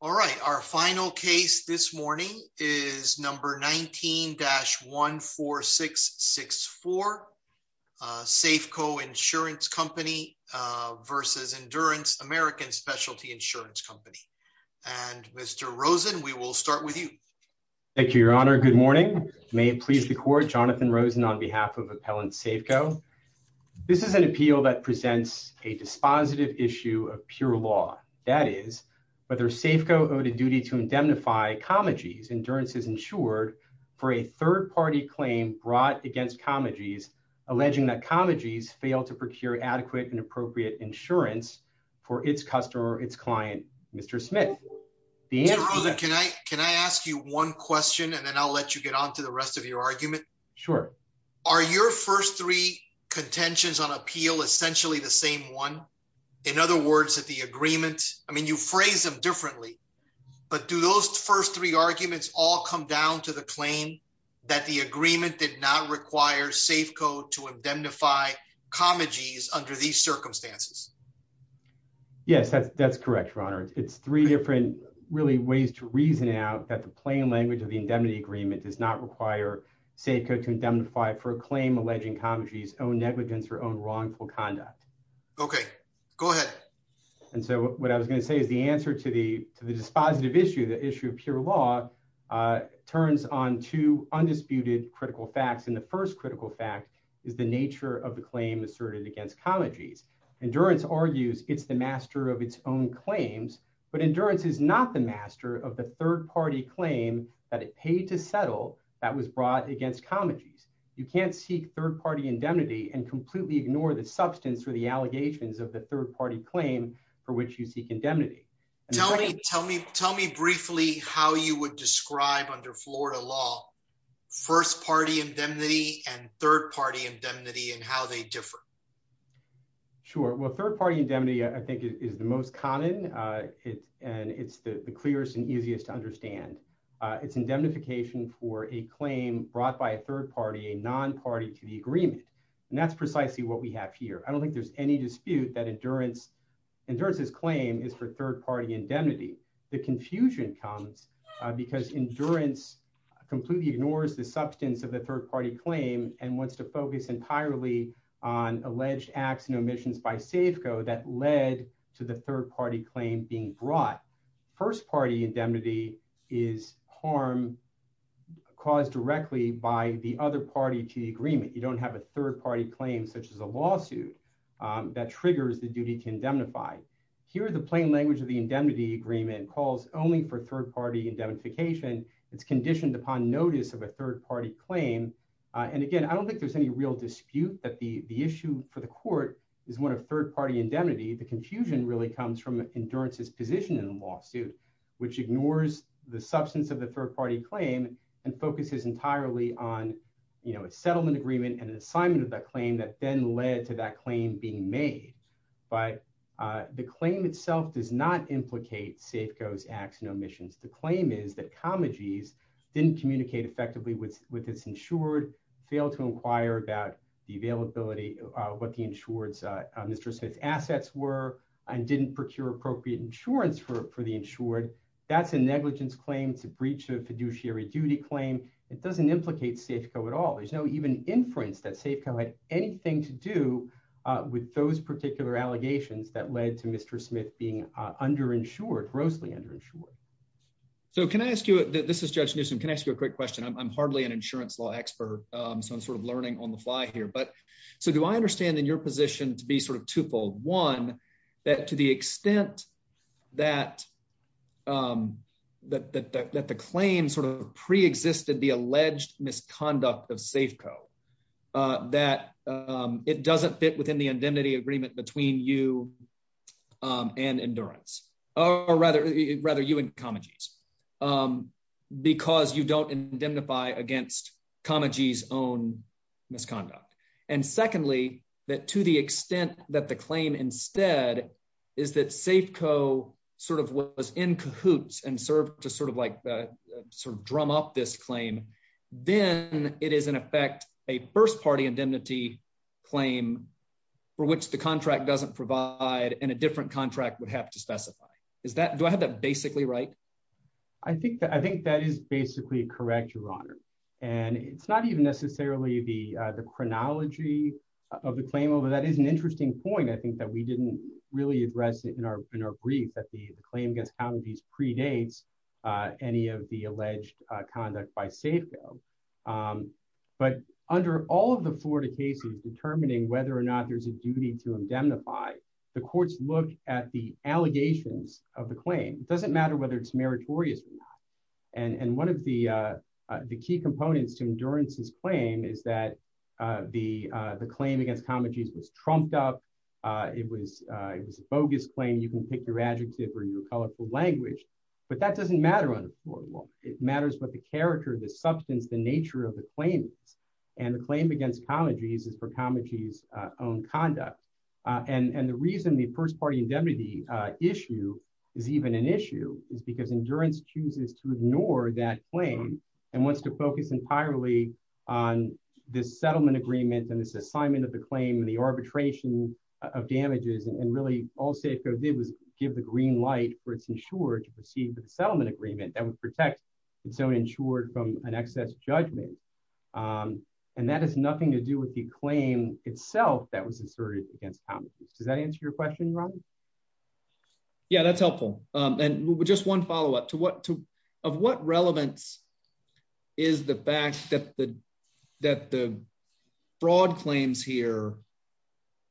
All right. Our final case this morning is number 19-14664, Safeco Insurance Company versus Endurance American Specialty Insurance Company. And Mr. Rosen, we will start with you. Thank you, Your Honor. Good morning. May it please the Court, Jonathan Rosen on behalf of Appellant Safeco. This is an appeal that presents a dispositive issue of pure law. That is, whether Safeco owed a duty to indemnify Comagee's Endurance is insured for a third-party claim brought against Comagee's, alleging that Comagee's failed to procure adequate and appropriate insurance for its customer, its client, Mr. Smith. Mr. Rosen, can I ask you one question and then I'll let you get on to the rest of your argument? Sure. Are your first three contentions on appeal essentially the same one? In other words, that the agreement, I mean, you phrase them differently. But do those first three arguments all come down to the claim that the agreement did not require Safeco to indemnify Comagee's under these circumstances? In other words, it's three different really ways to reason out that the plain language of the indemnity agreement does not require Safeco to indemnify for a claim alleging Comagee's own negligence or own wrongful conduct. Okay, go ahead. And so what I was going to say is the answer to the to the dispositive issue, the issue of pure law, turns on to undisputed critical facts. And the first critical fact is the nature of the claim asserted against Comagee's. Endurance argues it's the master of its own claims, but endurance is not the master of the third party claim that it paid to settle that was brought against Comagee's. You can't seek third party indemnity and completely ignore the substance or the allegations of the third party claim for which you seek indemnity. Tell me, tell me, tell me briefly how you would describe under Florida law, first party indemnity and third party indemnity and how they differ. Sure. Well, third party indemnity, I think, is the most common. And it's the clearest and easiest to understand. It's indemnification for a claim brought by a third party, a non party to the agreement. And that's precisely what we have here. I don't think there's any dispute that endurance, endurance's claim is for third party indemnity. The confusion comes because endurance completely ignores the substance of the third party claim and wants to focus entirely on alleged acts and omissions by safe go that led to the third party claim being brought. First party indemnity is harm caused directly by the other party to the agreement. You don't have a third party claim such as a lawsuit that triggers the duty to indemnify. Here, the plain language of the indemnity agreement calls only for third party indemnification. It's conditioned upon notice of a third party claim. And again, I don't think there's any real dispute that the issue for the court is one of third party indemnity. The confusion really comes from endurance's position in a lawsuit, which ignores the substance of the third party claim and focuses entirely on, you know, a settlement agreement and an assignment of that claim that then led to that claim being made. But the claim itself does not implicate safe goes acts and omissions. The claim is that comedies didn't communicate effectively with with this insured fail to inquire about the availability of what the insured Mr. Smith assets were and didn't procure appropriate insurance for the insured. That's a negligence claim to breach of fiduciary duty claim. It doesn't implicate safe go at all. There's no even inference that safe had anything to do with those particular allegations that led to Mr. Smith being underinsured grossly underinsured. So can I ask you, this is Judge Newsome. Can I ask you a quick question? I'm hardly an insurance law expert. So I'm sort of learning on the fly here. But so do I understand in your position to be sort of twofold? One, that to the extent that that that that the claim sort of preexisted the alleged misconduct of safe go that it doesn't fit within the indemnity agreement between you and endurance. Or rather, rather you and comedies because you don't indemnify against comedies own misconduct. And secondly, that to the extent that the claim instead is that safe go sort of was in cahoots and serve to sort of like the sort of drum up this claim. Then it is, in effect, a first party indemnity claim for which the contract doesn't provide in a different contract would have to specify is that do I have that basically right? I think that I think that is basically correct, Your Honor. And it's not even necessarily the the chronology of the claim over that is an interesting point. I think that we didn't really address it in our in our brief that the claim against comedies predates any of the alleged conduct by safe go. But under all of the Florida cases determining whether or not there's a duty to indemnify the courts look at the allegations of the claim doesn't matter whether it's meritorious. And one of the the key components to endurance his claim is that the the claim against comedies was trumped up. It was it was a bogus claim. You can pick your adjective or your colorful language, but that doesn't matter on the floor. It matters what the character of the substance, the nature of the claims and the claim against comedies is for comedies own conduct. And the reason the first party indemnity issue is even an issue is because endurance chooses to ignore that claim and wants to focus entirely on this settlement agreement and this assignment of the claim and the arbitration of damages. And really, all safe code did was give the green light for it's insured to proceed with the settlement agreement that would protect and so insured from an excess judgment. And that has nothing to do with the claim itself that was inserted against comedies. Does that answer your question. Yeah, that's helpful. And just one follow up to what to have what relevance is the fact that the that the broad claims here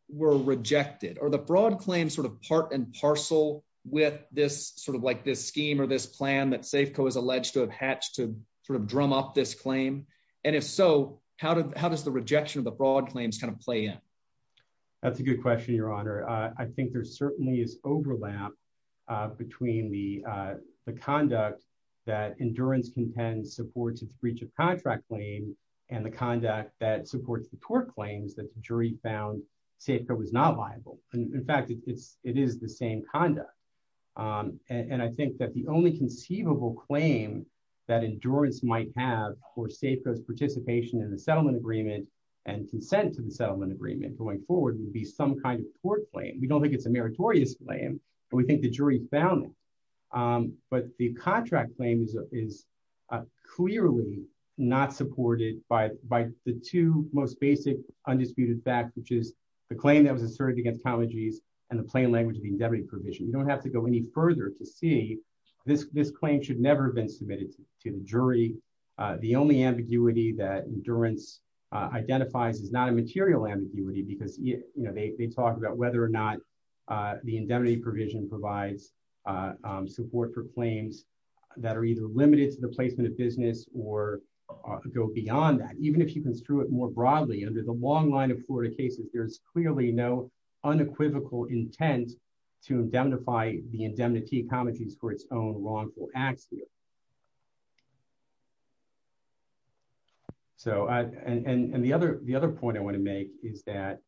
were rejected or the broad claim sort of part and parcel with this sort of like this scheme or this plan that safe code is alleged to have hatched to sort of drum up this claim. And if so, how did, how does the rejection of the broad claims kind of play in. That's a good question, Your Honor, I think there's certainly is overlap between the conduct that endurance contend supports its breach of contract claim, and the conduct that supports the court claims that jury found safer was not viable. In fact, it's, it is the same conduct. And I think that the only conceivable claim that endurance might have for safe goes participation in the settlement agreement and consent to the settlement agreement going forward would be some kind of court claim we don't think it's a meritorious claim. We think the jury found. But the contract claims is clearly not supported by by the two most basic undisputed fact which is the claim that was asserted against allergies and the plain language of the indebted provision you don't have to go any further to see this this claim should never been submitted to the jury. The only ambiguity that endurance identifies is not a material ambiguity because you know they talked about whether or not the indemnity provision provides support for claims that are either limited to the placement of business or go beyond that even if you can screw it more broadly under the long line of Florida cases there's clearly no unequivocal intent to identify the indemnity comedies for its own wrongful acts. So, and the other the other point I want to make is that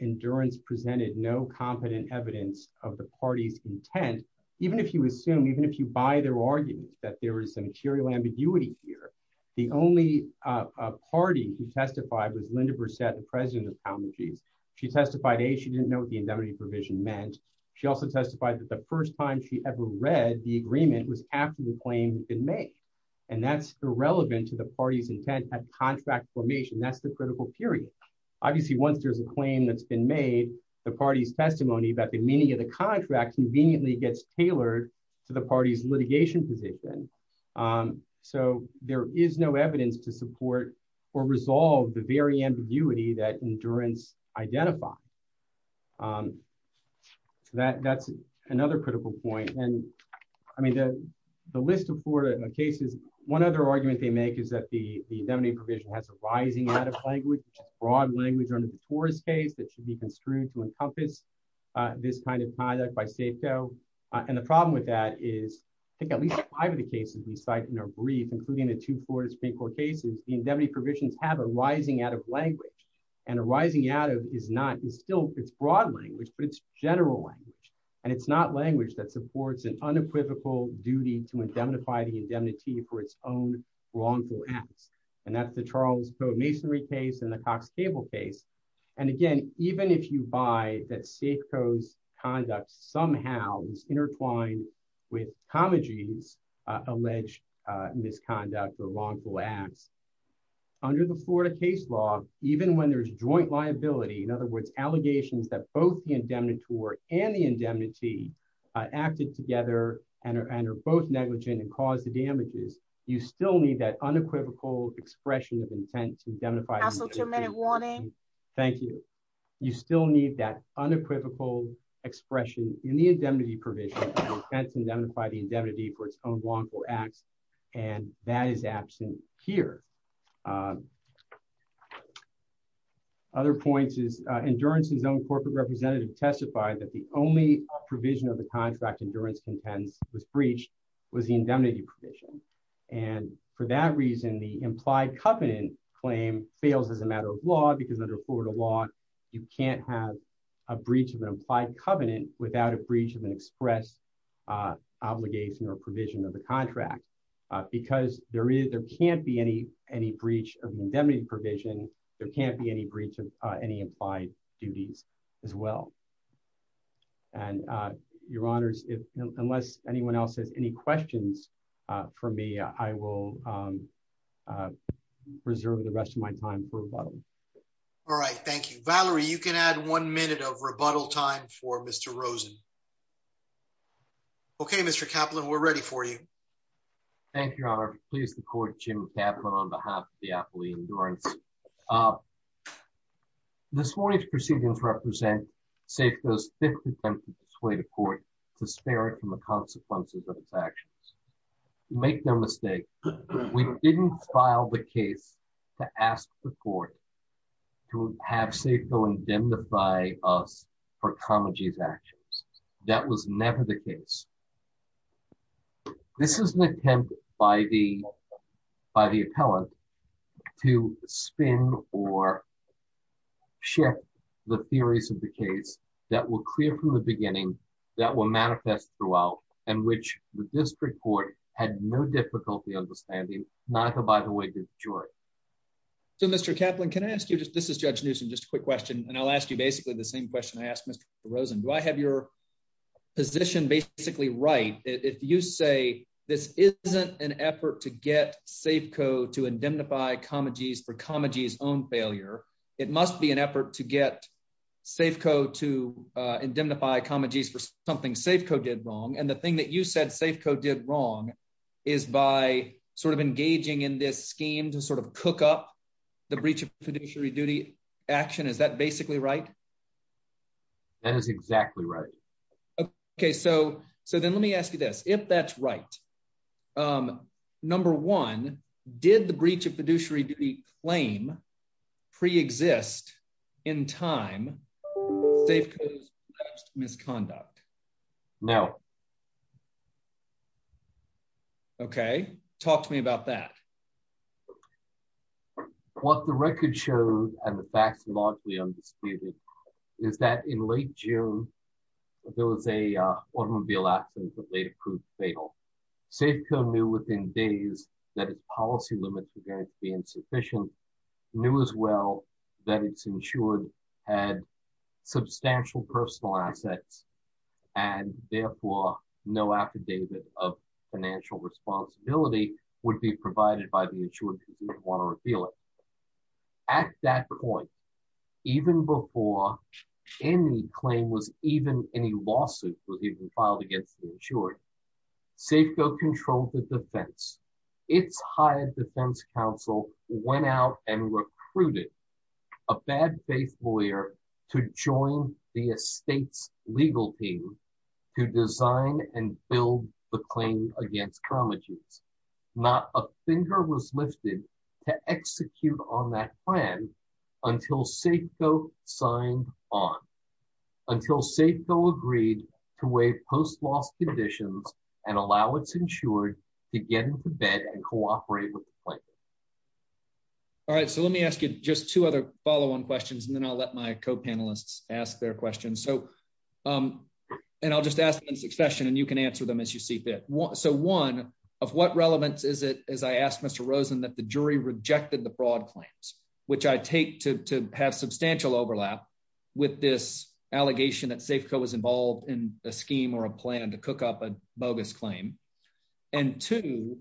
endurance presented no competent evidence of the party's intent, even if you assume even if you buy their arguments that there is some material ambiguity here. The only party who testified was Linda percent of President of allergies. She testified a she didn't know the indemnity provision meant. She also testified that the first time she ever read the agreement was after the claim in May, and that's irrelevant to the party's intent at contract formation that's the critical period. Obviously once there's a claim that's been made the party's testimony about the meaning of the contract conveniently gets tailored to the party's litigation position. So, there is no evidence to support or resolve the very ambiguity that endurance identify that that's another critical point and I mean the, the list of Florida cases. One other argument they make is that the, the indemnity provision has a rising out of language, broad language on the tourist case that should be construed to encompass this kind of pilot by safe go. And the problem with that is, I think at least five of the cases we cite in our brief including the two floors people cases, the indemnity provisions have a rising out of language and arising out of is not is still it's broad language but it's general and it's not language that supports an unequivocal duty to identify the indemnity for its own wrongful acts. And that's the Charles code masonry case and the Cox cable case. And again, even if you buy that safe codes conduct somehow is intertwined with comedies alleged misconduct or wrongful acts under the Florida case law, even when there's joint liability in other words allegations that both the indemnitory and the indemnity acted together, and are both negligent and cause the damages, you still need that unequivocal expression of intent to identify a minute warning. Thank you. You still need that unequivocal expression in the indemnity provision. Identify the indemnity for its own wrongful acts, and that is absent here. Other points is endurance his own corporate representative testified that the only provision of the contract endurance contends was breached was the indemnity provision. And for that reason the implied covenant claim fails as a matter of law because under Florida law, you can't have a breach of an implied covenant without a breach of an express obligation or provision of the contract, because there is there can't be any, any breach of indemnity provision. There can't be any breach of any implied duties as well. And your honors if unless anyone else has any questions for me, I will preserve the rest of my time for a while. All right, thank you Valerie you can add one minute of rebuttal time for Mr Rosen. Okay, Mr Kaplan we're ready for you. Thank you, Your Honor, please the court Jim Kaplan on behalf of the athlete endurance. This morning's proceedings represent safe those attempts to sway the court to spare it from the consequences of its actions. Make no mistake. We didn't file the case to ask the court to have safe go indemnify us for comedies actions. That was never the case. This is an attempt by the by the appellant to spin, or share the theories of the case that will clear from the beginning that will manifest throughout, and which the district court had no difficulty understanding, not by the way the jury. So Mr Kaplan can ask you just this is judge news and just a quick question and I'll ask you basically the same question I asked Mr Rosen do I have your position basically right, if you say this isn't an effort to get safe code to indemnify comedies for the breach of fiduciary duty action is that basically right. That is exactly right. Okay, so, so then let me ask you this, if that's right. Number one, did the breach of fiduciary claim pre exist in time. Misconduct. Now, Okay, talk to me about that. What the record shows, and the facts logically undisputed is that in late June. There was a automobile accident that later proved fatal safe code new within days that policy limits are going to be insufficient, knew as well that it's insured had substantial personal assets, and therefore, no affidavit of financial responsibility would be provided by the insurance. At that point. Even before any claim was even any lawsuit was even filed against the insured safe go control the defense. It's hired Defense Council went out and recruited a bad faith lawyer to join the estates legal team to design and build the claim against not a finger was lifted to execute on that plan until safe go signed on until safe go agreed to wait post loss conditions and allow it's insured to get into bed and cooperate with. All right, so let me ask you just two other follow on questions and then I'll let my co panelists, ask their questions so. And I'll just ask them in succession and you can answer them as you see fit. So one of what relevance is it as I asked Mr Rosen that the jury rejected the broad claims, which I take to have substantial overlap with this allegation that safe code was involved in a scheme or a plan to cook up a bogus claim. And to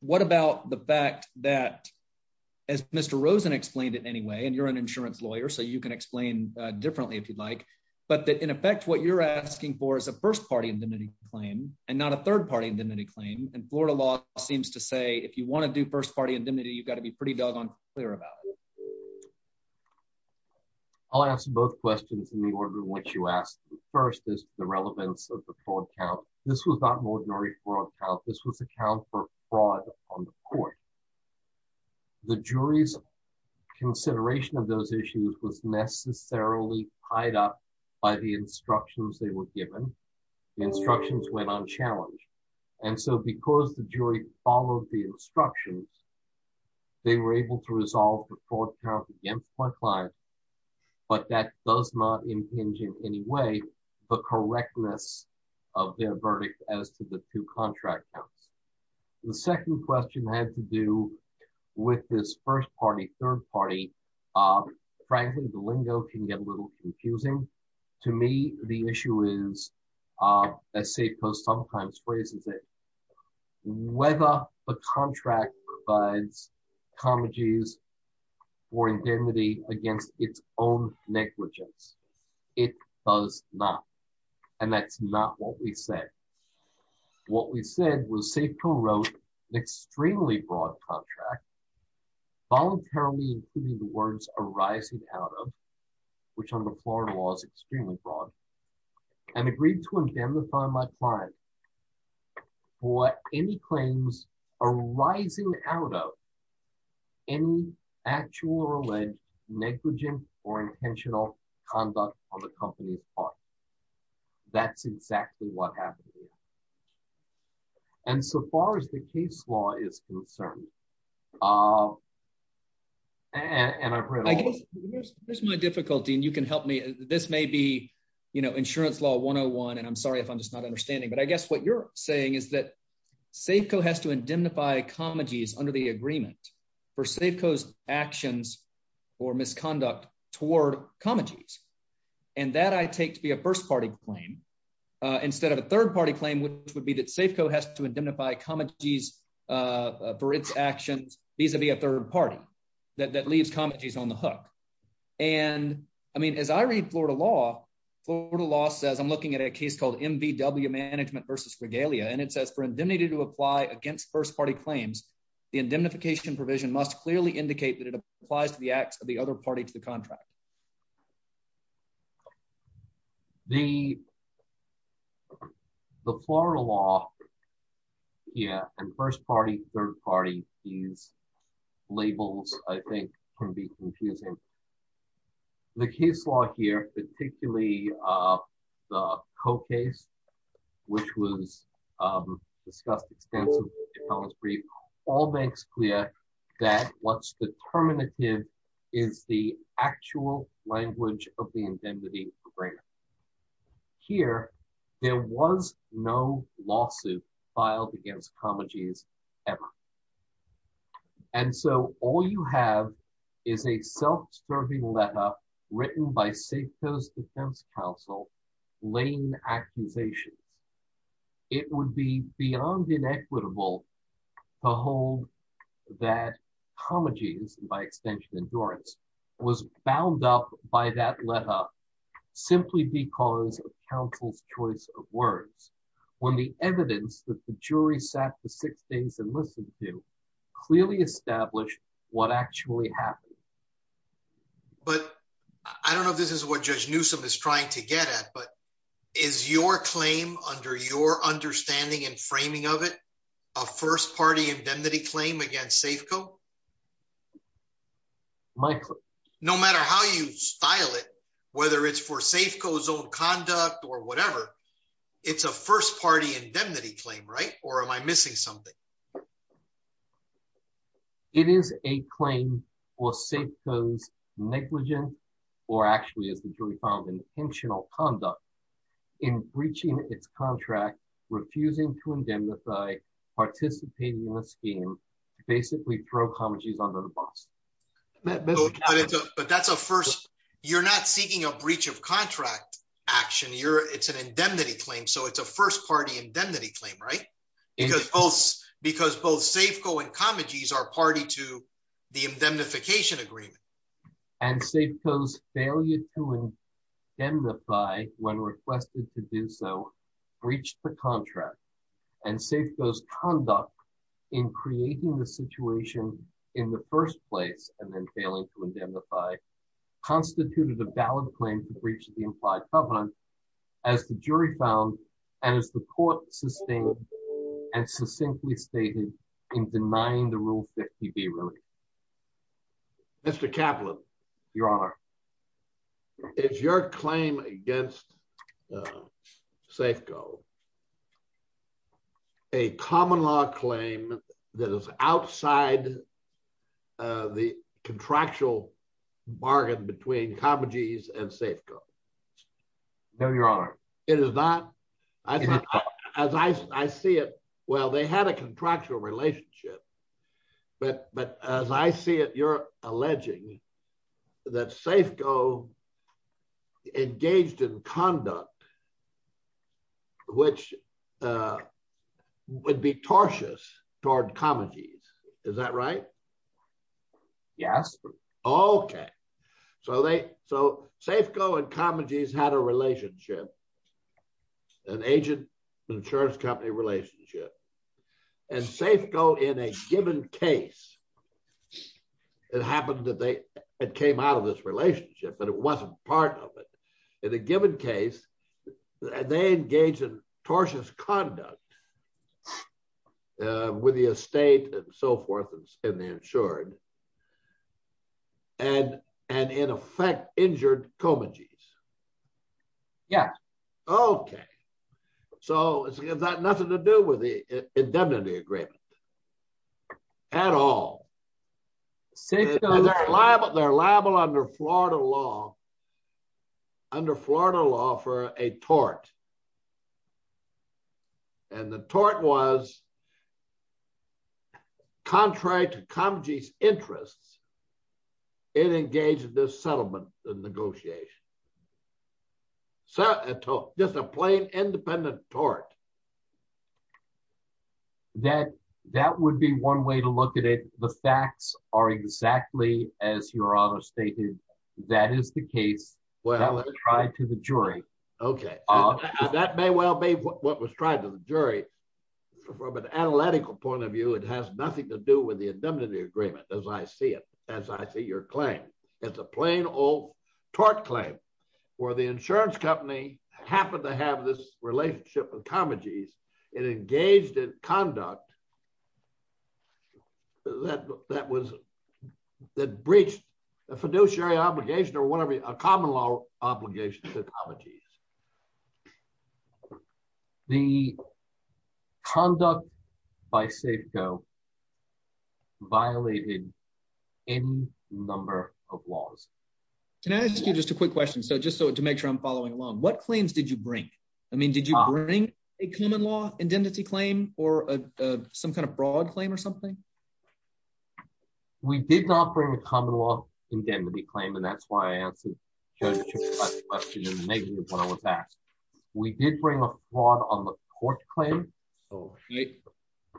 what about the fact that, as Mr Rosen explained it anyway and you're an insurance lawyer so you can explain differently if you'd like, but that in effect what you're asking for is a first party indemnity claim, and not a third party indemnity claim and Florida law seems to say if you want to do first party indemnity you got to be pretty doggone clear about. I'll ask both questions in the order in which you asked the first is the relevance of the fraud count. This was not an ordinary fraud count this was account for fraud on the court. The jury's consideration of those issues was necessarily tied up by the instructions they were given instructions went on challenge. And so because the jury followed the instructions. They were able to resolve the fraud count against my client. But that does not impinge in any way, the correctness of their verdict, as to the two contract counts. The second question has to do with this first party third party. Frankly, the lingo can get a little confusing. To me, the issue is a safe post sometimes phrases it whether the contract, but comedies or indemnity against its own negligence. It does not. And that's not what we said. What we said was safe co wrote an extremely broad contract voluntarily including the words arising out of which on the floor was extremely broad and agreed to indemnify my client for any claims arising out of any actual or alleged negligent or intentional conduct on the company's part. That's exactly what happened. And so far as the case law is concerned, and I guess there's my difficulty and you can help me. This may be, you know, insurance law one on one and I'm sorry if I'm just not understanding but I guess what you're saying is that safe co has to indemnify comedies under the agreement for safe coast actions or misconduct toward comedies. And that I take to be a first party claim. Instead of a third party claim which would be that safe co has to indemnify comedies for its actions, vis a vis a third party that that leaves comedies on the hook. And I mean as I read Florida law, Florida law says I'm looking at a case called MBW management versus regalia and it says for indemnity to apply against first party claims, the indemnification provision must clearly indicate that it applies to the acts of the other party to the contract. The. The Florida law. Yeah, and first party third party, these labels, I think, can be confusing. The case law here, particularly the co case, which was discussed extensively. All makes clear that what's the terminative is the actual language of the indemnity. Here, there was no lawsuit filed against comedies, ever. And so, all you have is a self serving letter, written by safe coast Defense Council lane accusations. It would be beyond inequitable to hold that comedies, by extension endurance was bound up by that letter, simply because of counsel's choice of words, when the evidence that the jury sat for six days and listen to clearly establish what actually happened. But I don't know if this is what just knew some is trying to get at but is your claim under your understanding and framing of it. A first party indemnity claim against safe go. Michael, no matter how you style it, whether it's for safe goes on conduct or whatever. It's a first party indemnity claim right or am I missing something. It is a claim or safe goes negligent, or actually as the jury found intentional conduct in breaching its contract, refusing to indemnify participating in the scheme, basically pro comedies under the box. But that's a first, you're not seeking a breach of contract action you're it's an indemnity claim so it's a first party indemnity claim right because both because both safe going comedies are party to the indemnification agreement and safe goes failure to indemnify when requested to do so, reach the contract and safe goes conduct in creating the situation in the first place, and then failing to indemnify constituted a valid claim to breach the implied covenant, as the jury found, and as the court sustained and succinctly stated in denying the rule 50 be really Mr Kaplan, Your Honor. It's your claim against safe go a common law claim that is outside the contractual bargain between comedies and safe go. No, Your Honor, it is not. As I see it. Well they had a contractual relationship. But, but, as I see it you're alleging that safe go engaged in conduct, which would be cautious toward comedies. Is that right. Yes. Okay. So they so safe go and comedies had a relationship, an agent insurance company relationship and safe go in a given case, it happened that they came out of this relationship but it wasn't part of it. In a given case, they engage in cautious conduct with the estate, and so forth, and the insured. And, and in effect, injured comedies. Yeah. Okay. So it's got nothing to do with the indemnity agreement at all. They're liable under Florida law. Under Florida law for a tort. And the tort was contract comedies interests. It engaged this settlement, the negotiation. So, just a plain independent tort. That, that would be one way to look at it, the facts are exactly as your honor stated, that is the case. Well, right to the jury. Okay. That may well be what was tried to the jury. From an analytical point of view, it has nothing to do with the indemnity agreement, as I see it, as I see your claim. It's a plain old tort claim where the insurance company happened to have this relationship with comedies and engaged in conduct. That, that was that breached the fiduciary obligation or whatever a common law obligation to comedies. The conduct by safe go violated in number of laws. Can I ask you just a quick question so just so to make sure I'm following along what claims did you bring. I mean did you bring a common law indemnity claim, or some kind of broad claim or something. We did not bring a common law indemnity claim and that's why I asked. We did bring a lot on the court claim.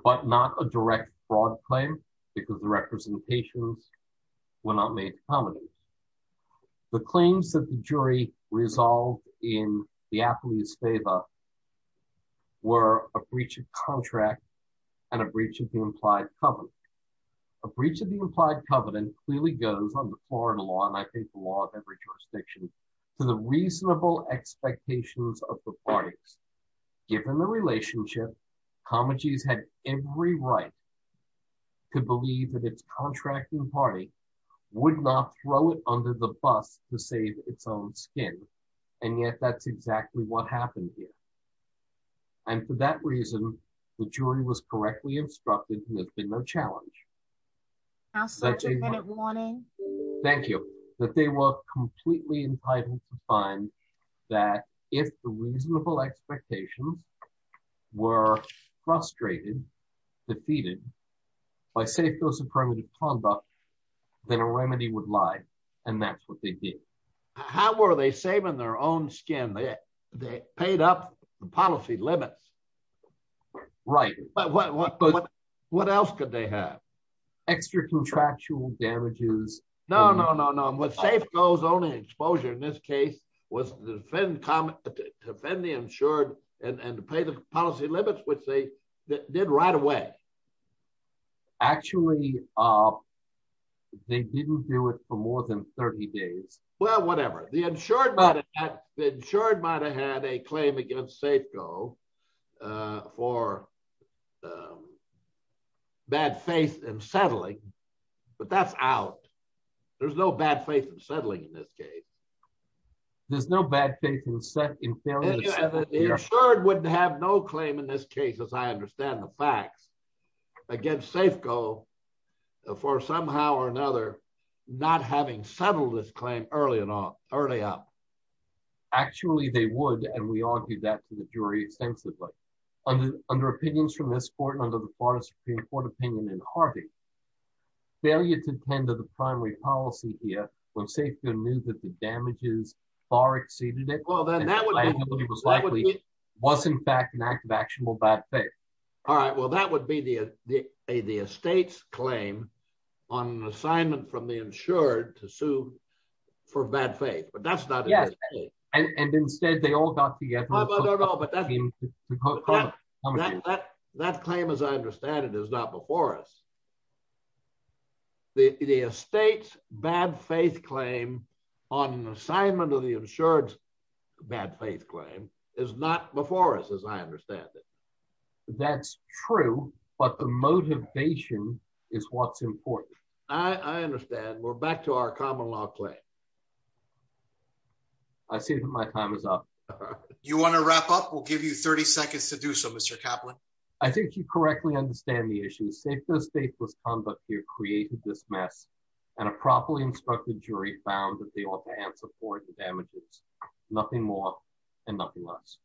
But not a direct broad claim, because the representations will not make the claims that the jury resolved in the athlete's favor. Were a breach of contract, and a breach of the implied company, a breach of the implied covenant clearly goes on the floor and along I think the law of every jurisdiction to the reasonable expectations of the parties. Given the relationship comedies had every right to believe that it's contracting party would not throw it under the bus to save its own skin. And yet that's exactly what happened here. And for that reason, the jury was correctly instructed to have been no challenge. Now such a minute warning. Thank you, that they were completely entitled to find that if the reasonable expectations were frustrated defeated by safe those affirmative conduct, then a remedy would lie. And that's what they did. How are they saving their own skin that they paid up the policy limits. Right. What else could they have extra contractual damages. No, no, no, no, I'm with safe goes only exposure in this case was defend comment defend the insured and pay the policy limits which they did right away. Actually, they didn't do it for more than 30 days. Well, whatever the insured insured might have had a claim against safe go for bad faith and settling, but that's out. There's no bad faith and settling in this case. There's no bad faith and set in your shirt wouldn't have no claim in this case as I understand the facts against safe go for somehow or another, not having settled this claim, early enough, early up. Actually, they would and we argued that to the jury extensively under under opinions from this court under the Supreme Court opinion in Harvey failure to tend to the primary policy here when safe good news that the damages far exceeded it well then that they all got together. That claim as I understand it is not before us. The state bad faith claim on assignment of the insurance bad faith claim is not before us as I understand it. That's true, but the motivation is what's important. I understand we're back to our common law claim. I see that my time is up. You want to wrap up we'll give you 30 seconds to do so Mr Kaplan, I think you correctly understand the issue safe the state was on but you're creating this mess, and a properly instructed jury found that they all can support the damages. Nothing more, and nothing less.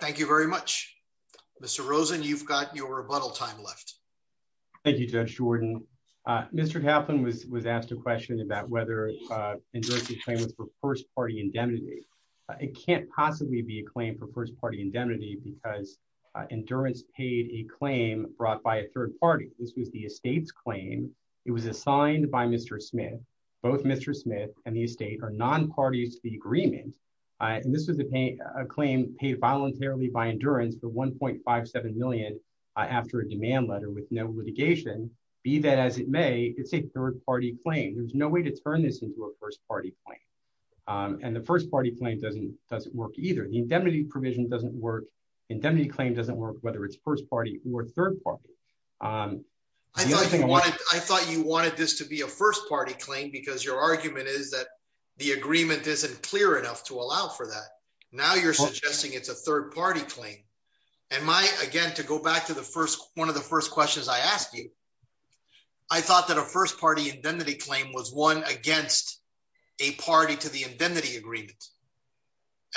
Thank you very much. Mr Rosen you've got your rebuttal time left. Thank you, Judge Jordan. Mr Kaplan was was asked a question about whether it was for first party indemnity. It can't possibly be a claim for first party indemnity because endurance paid a claim brought by a third party, this was the estate's claim. It was assigned by Mr Smith, both Mr Smith, and the state or non parties, the agreement. And this was a claim paid voluntarily by endurance the 1.57 million. After a demand letter with no litigation, be that as it may, it's a third party claim there's no way to turn this into a first party point. And the first party claim doesn't doesn't work either the indemnity provision doesn't work indemnity claim doesn't work whether it's first party or third party. I thought you wanted this to be a first party claim because your argument is that the agreement isn't clear enough to allow for that. Now you're suggesting it's a third party claim. And my again to go back to the first one of the first questions I asked you. I thought that a first party indemnity claim was one against a party to the indemnity agreement.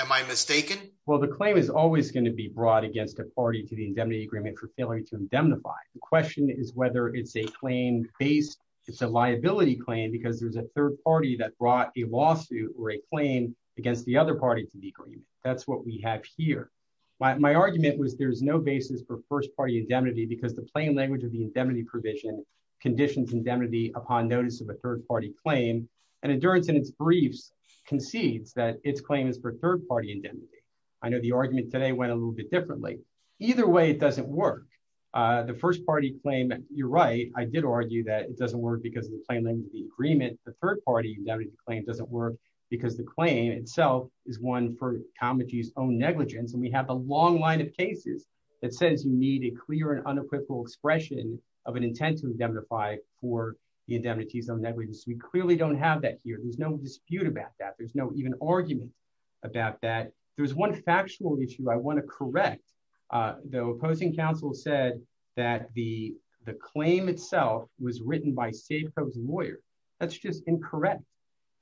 Am I mistaken, well the claim is always going to be brought against a party to the indemnity agreement for failure to indemnify the question is whether it's a claim based. It's a liability claim because there's a third party that brought a lawsuit or a claim against the other party to the agreement. That's what we have here. My argument was there's no basis for first party indemnity because the plain language of the indemnity provision conditions indemnity upon notice of a third party claim and endurance in its briefs concedes that its claim is for third party indemnity. I know the argument today went a little bit differently. Either way, it doesn't work. The first party claim, you're right, I did argue that it doesn't work because of the plain language of the agreement, the third party indemnity claim doesn't work because the claim itself is one for competencies own negligence and we have a long line of cases that says you need a clear and unequivocal expression of an intent to indemnify for the indemnities on negligence we clearly don't have that here there's no dispute about that there's no even argument about that. There's one factual issue I want to correct, though opposing counsel said that the, the claim itself was written by safeco lawyer. That's just incorrect.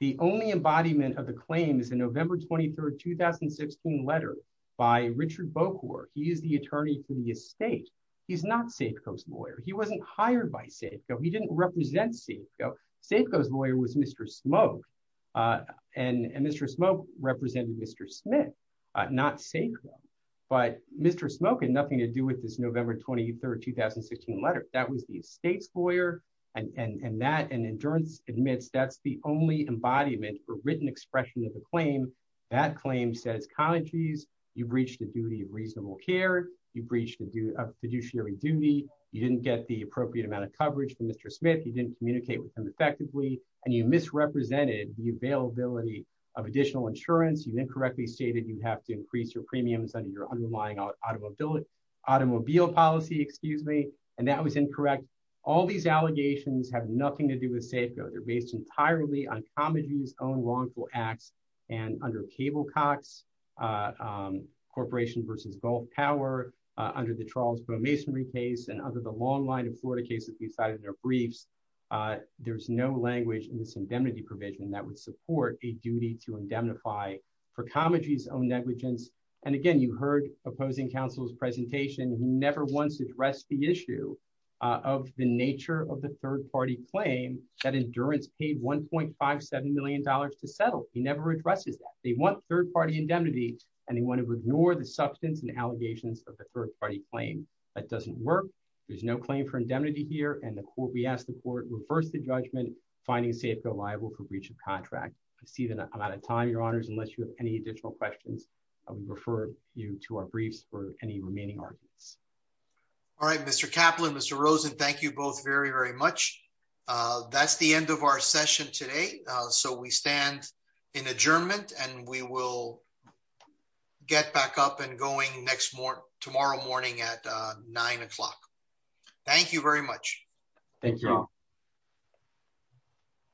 The only embodiment of the claims in November 23 2016 letter by Richard bookwork he is the attorney for the estate. He's not safeco lawyer he wasn't hired by safeco he didn't represent see safeco lawyer was Mr smoke. And Mr smoke represented Mr Smith, not safe, but Mr smoke and nothing to do with this November 23 2016 letter that was the state's lawyer, and that and endurance admits that's the only embodiment for written expression of the claim that claim he says countries, you breach the duty of reasonable care, you breach to do a fiduciary duty, you didn't get the appropriate amount of coverage for Mr Smith he didn't communicate with him effectively, and you misrepresented the availability of additional insurance you incorrectly stated you have to increase your premiums and your underlying automobile automobile policy excuse me, and that was incorrect. All these allegations have nothing to do with safego they're based entirely on comedy's own wrongful acts, and under cable Cox Corporation versus both power under the Charles masonry case and under the long line of Florida cases decided their briefs. There's no language in this indemnity provision that would support a duty to indemnify for comedies own negligence. And again, you heard opposing counsel's presentation never wants to address the issue of the nature of the third party claim that endurance paid $1.57 million to settle, he never addresses that they want third party indemnity, and they want to ignore the substance and allegations of the third party claim that doesn't work. There's no claim for indemnity here and the court we asked the court reverse the judgment, finding safe reliable for breach of contract, I see that I'm out of time, your honors unless you have any additional questions. I would refer you to our briefs for any remaining arguments. All right, Mr Kaplan Mr Rosen Thank you both very very much. That's the end of our session today. So we stand in adjournment and we will get back up and going next more tomorrow morning at nine o'clock. Thank you very much. Thank you all.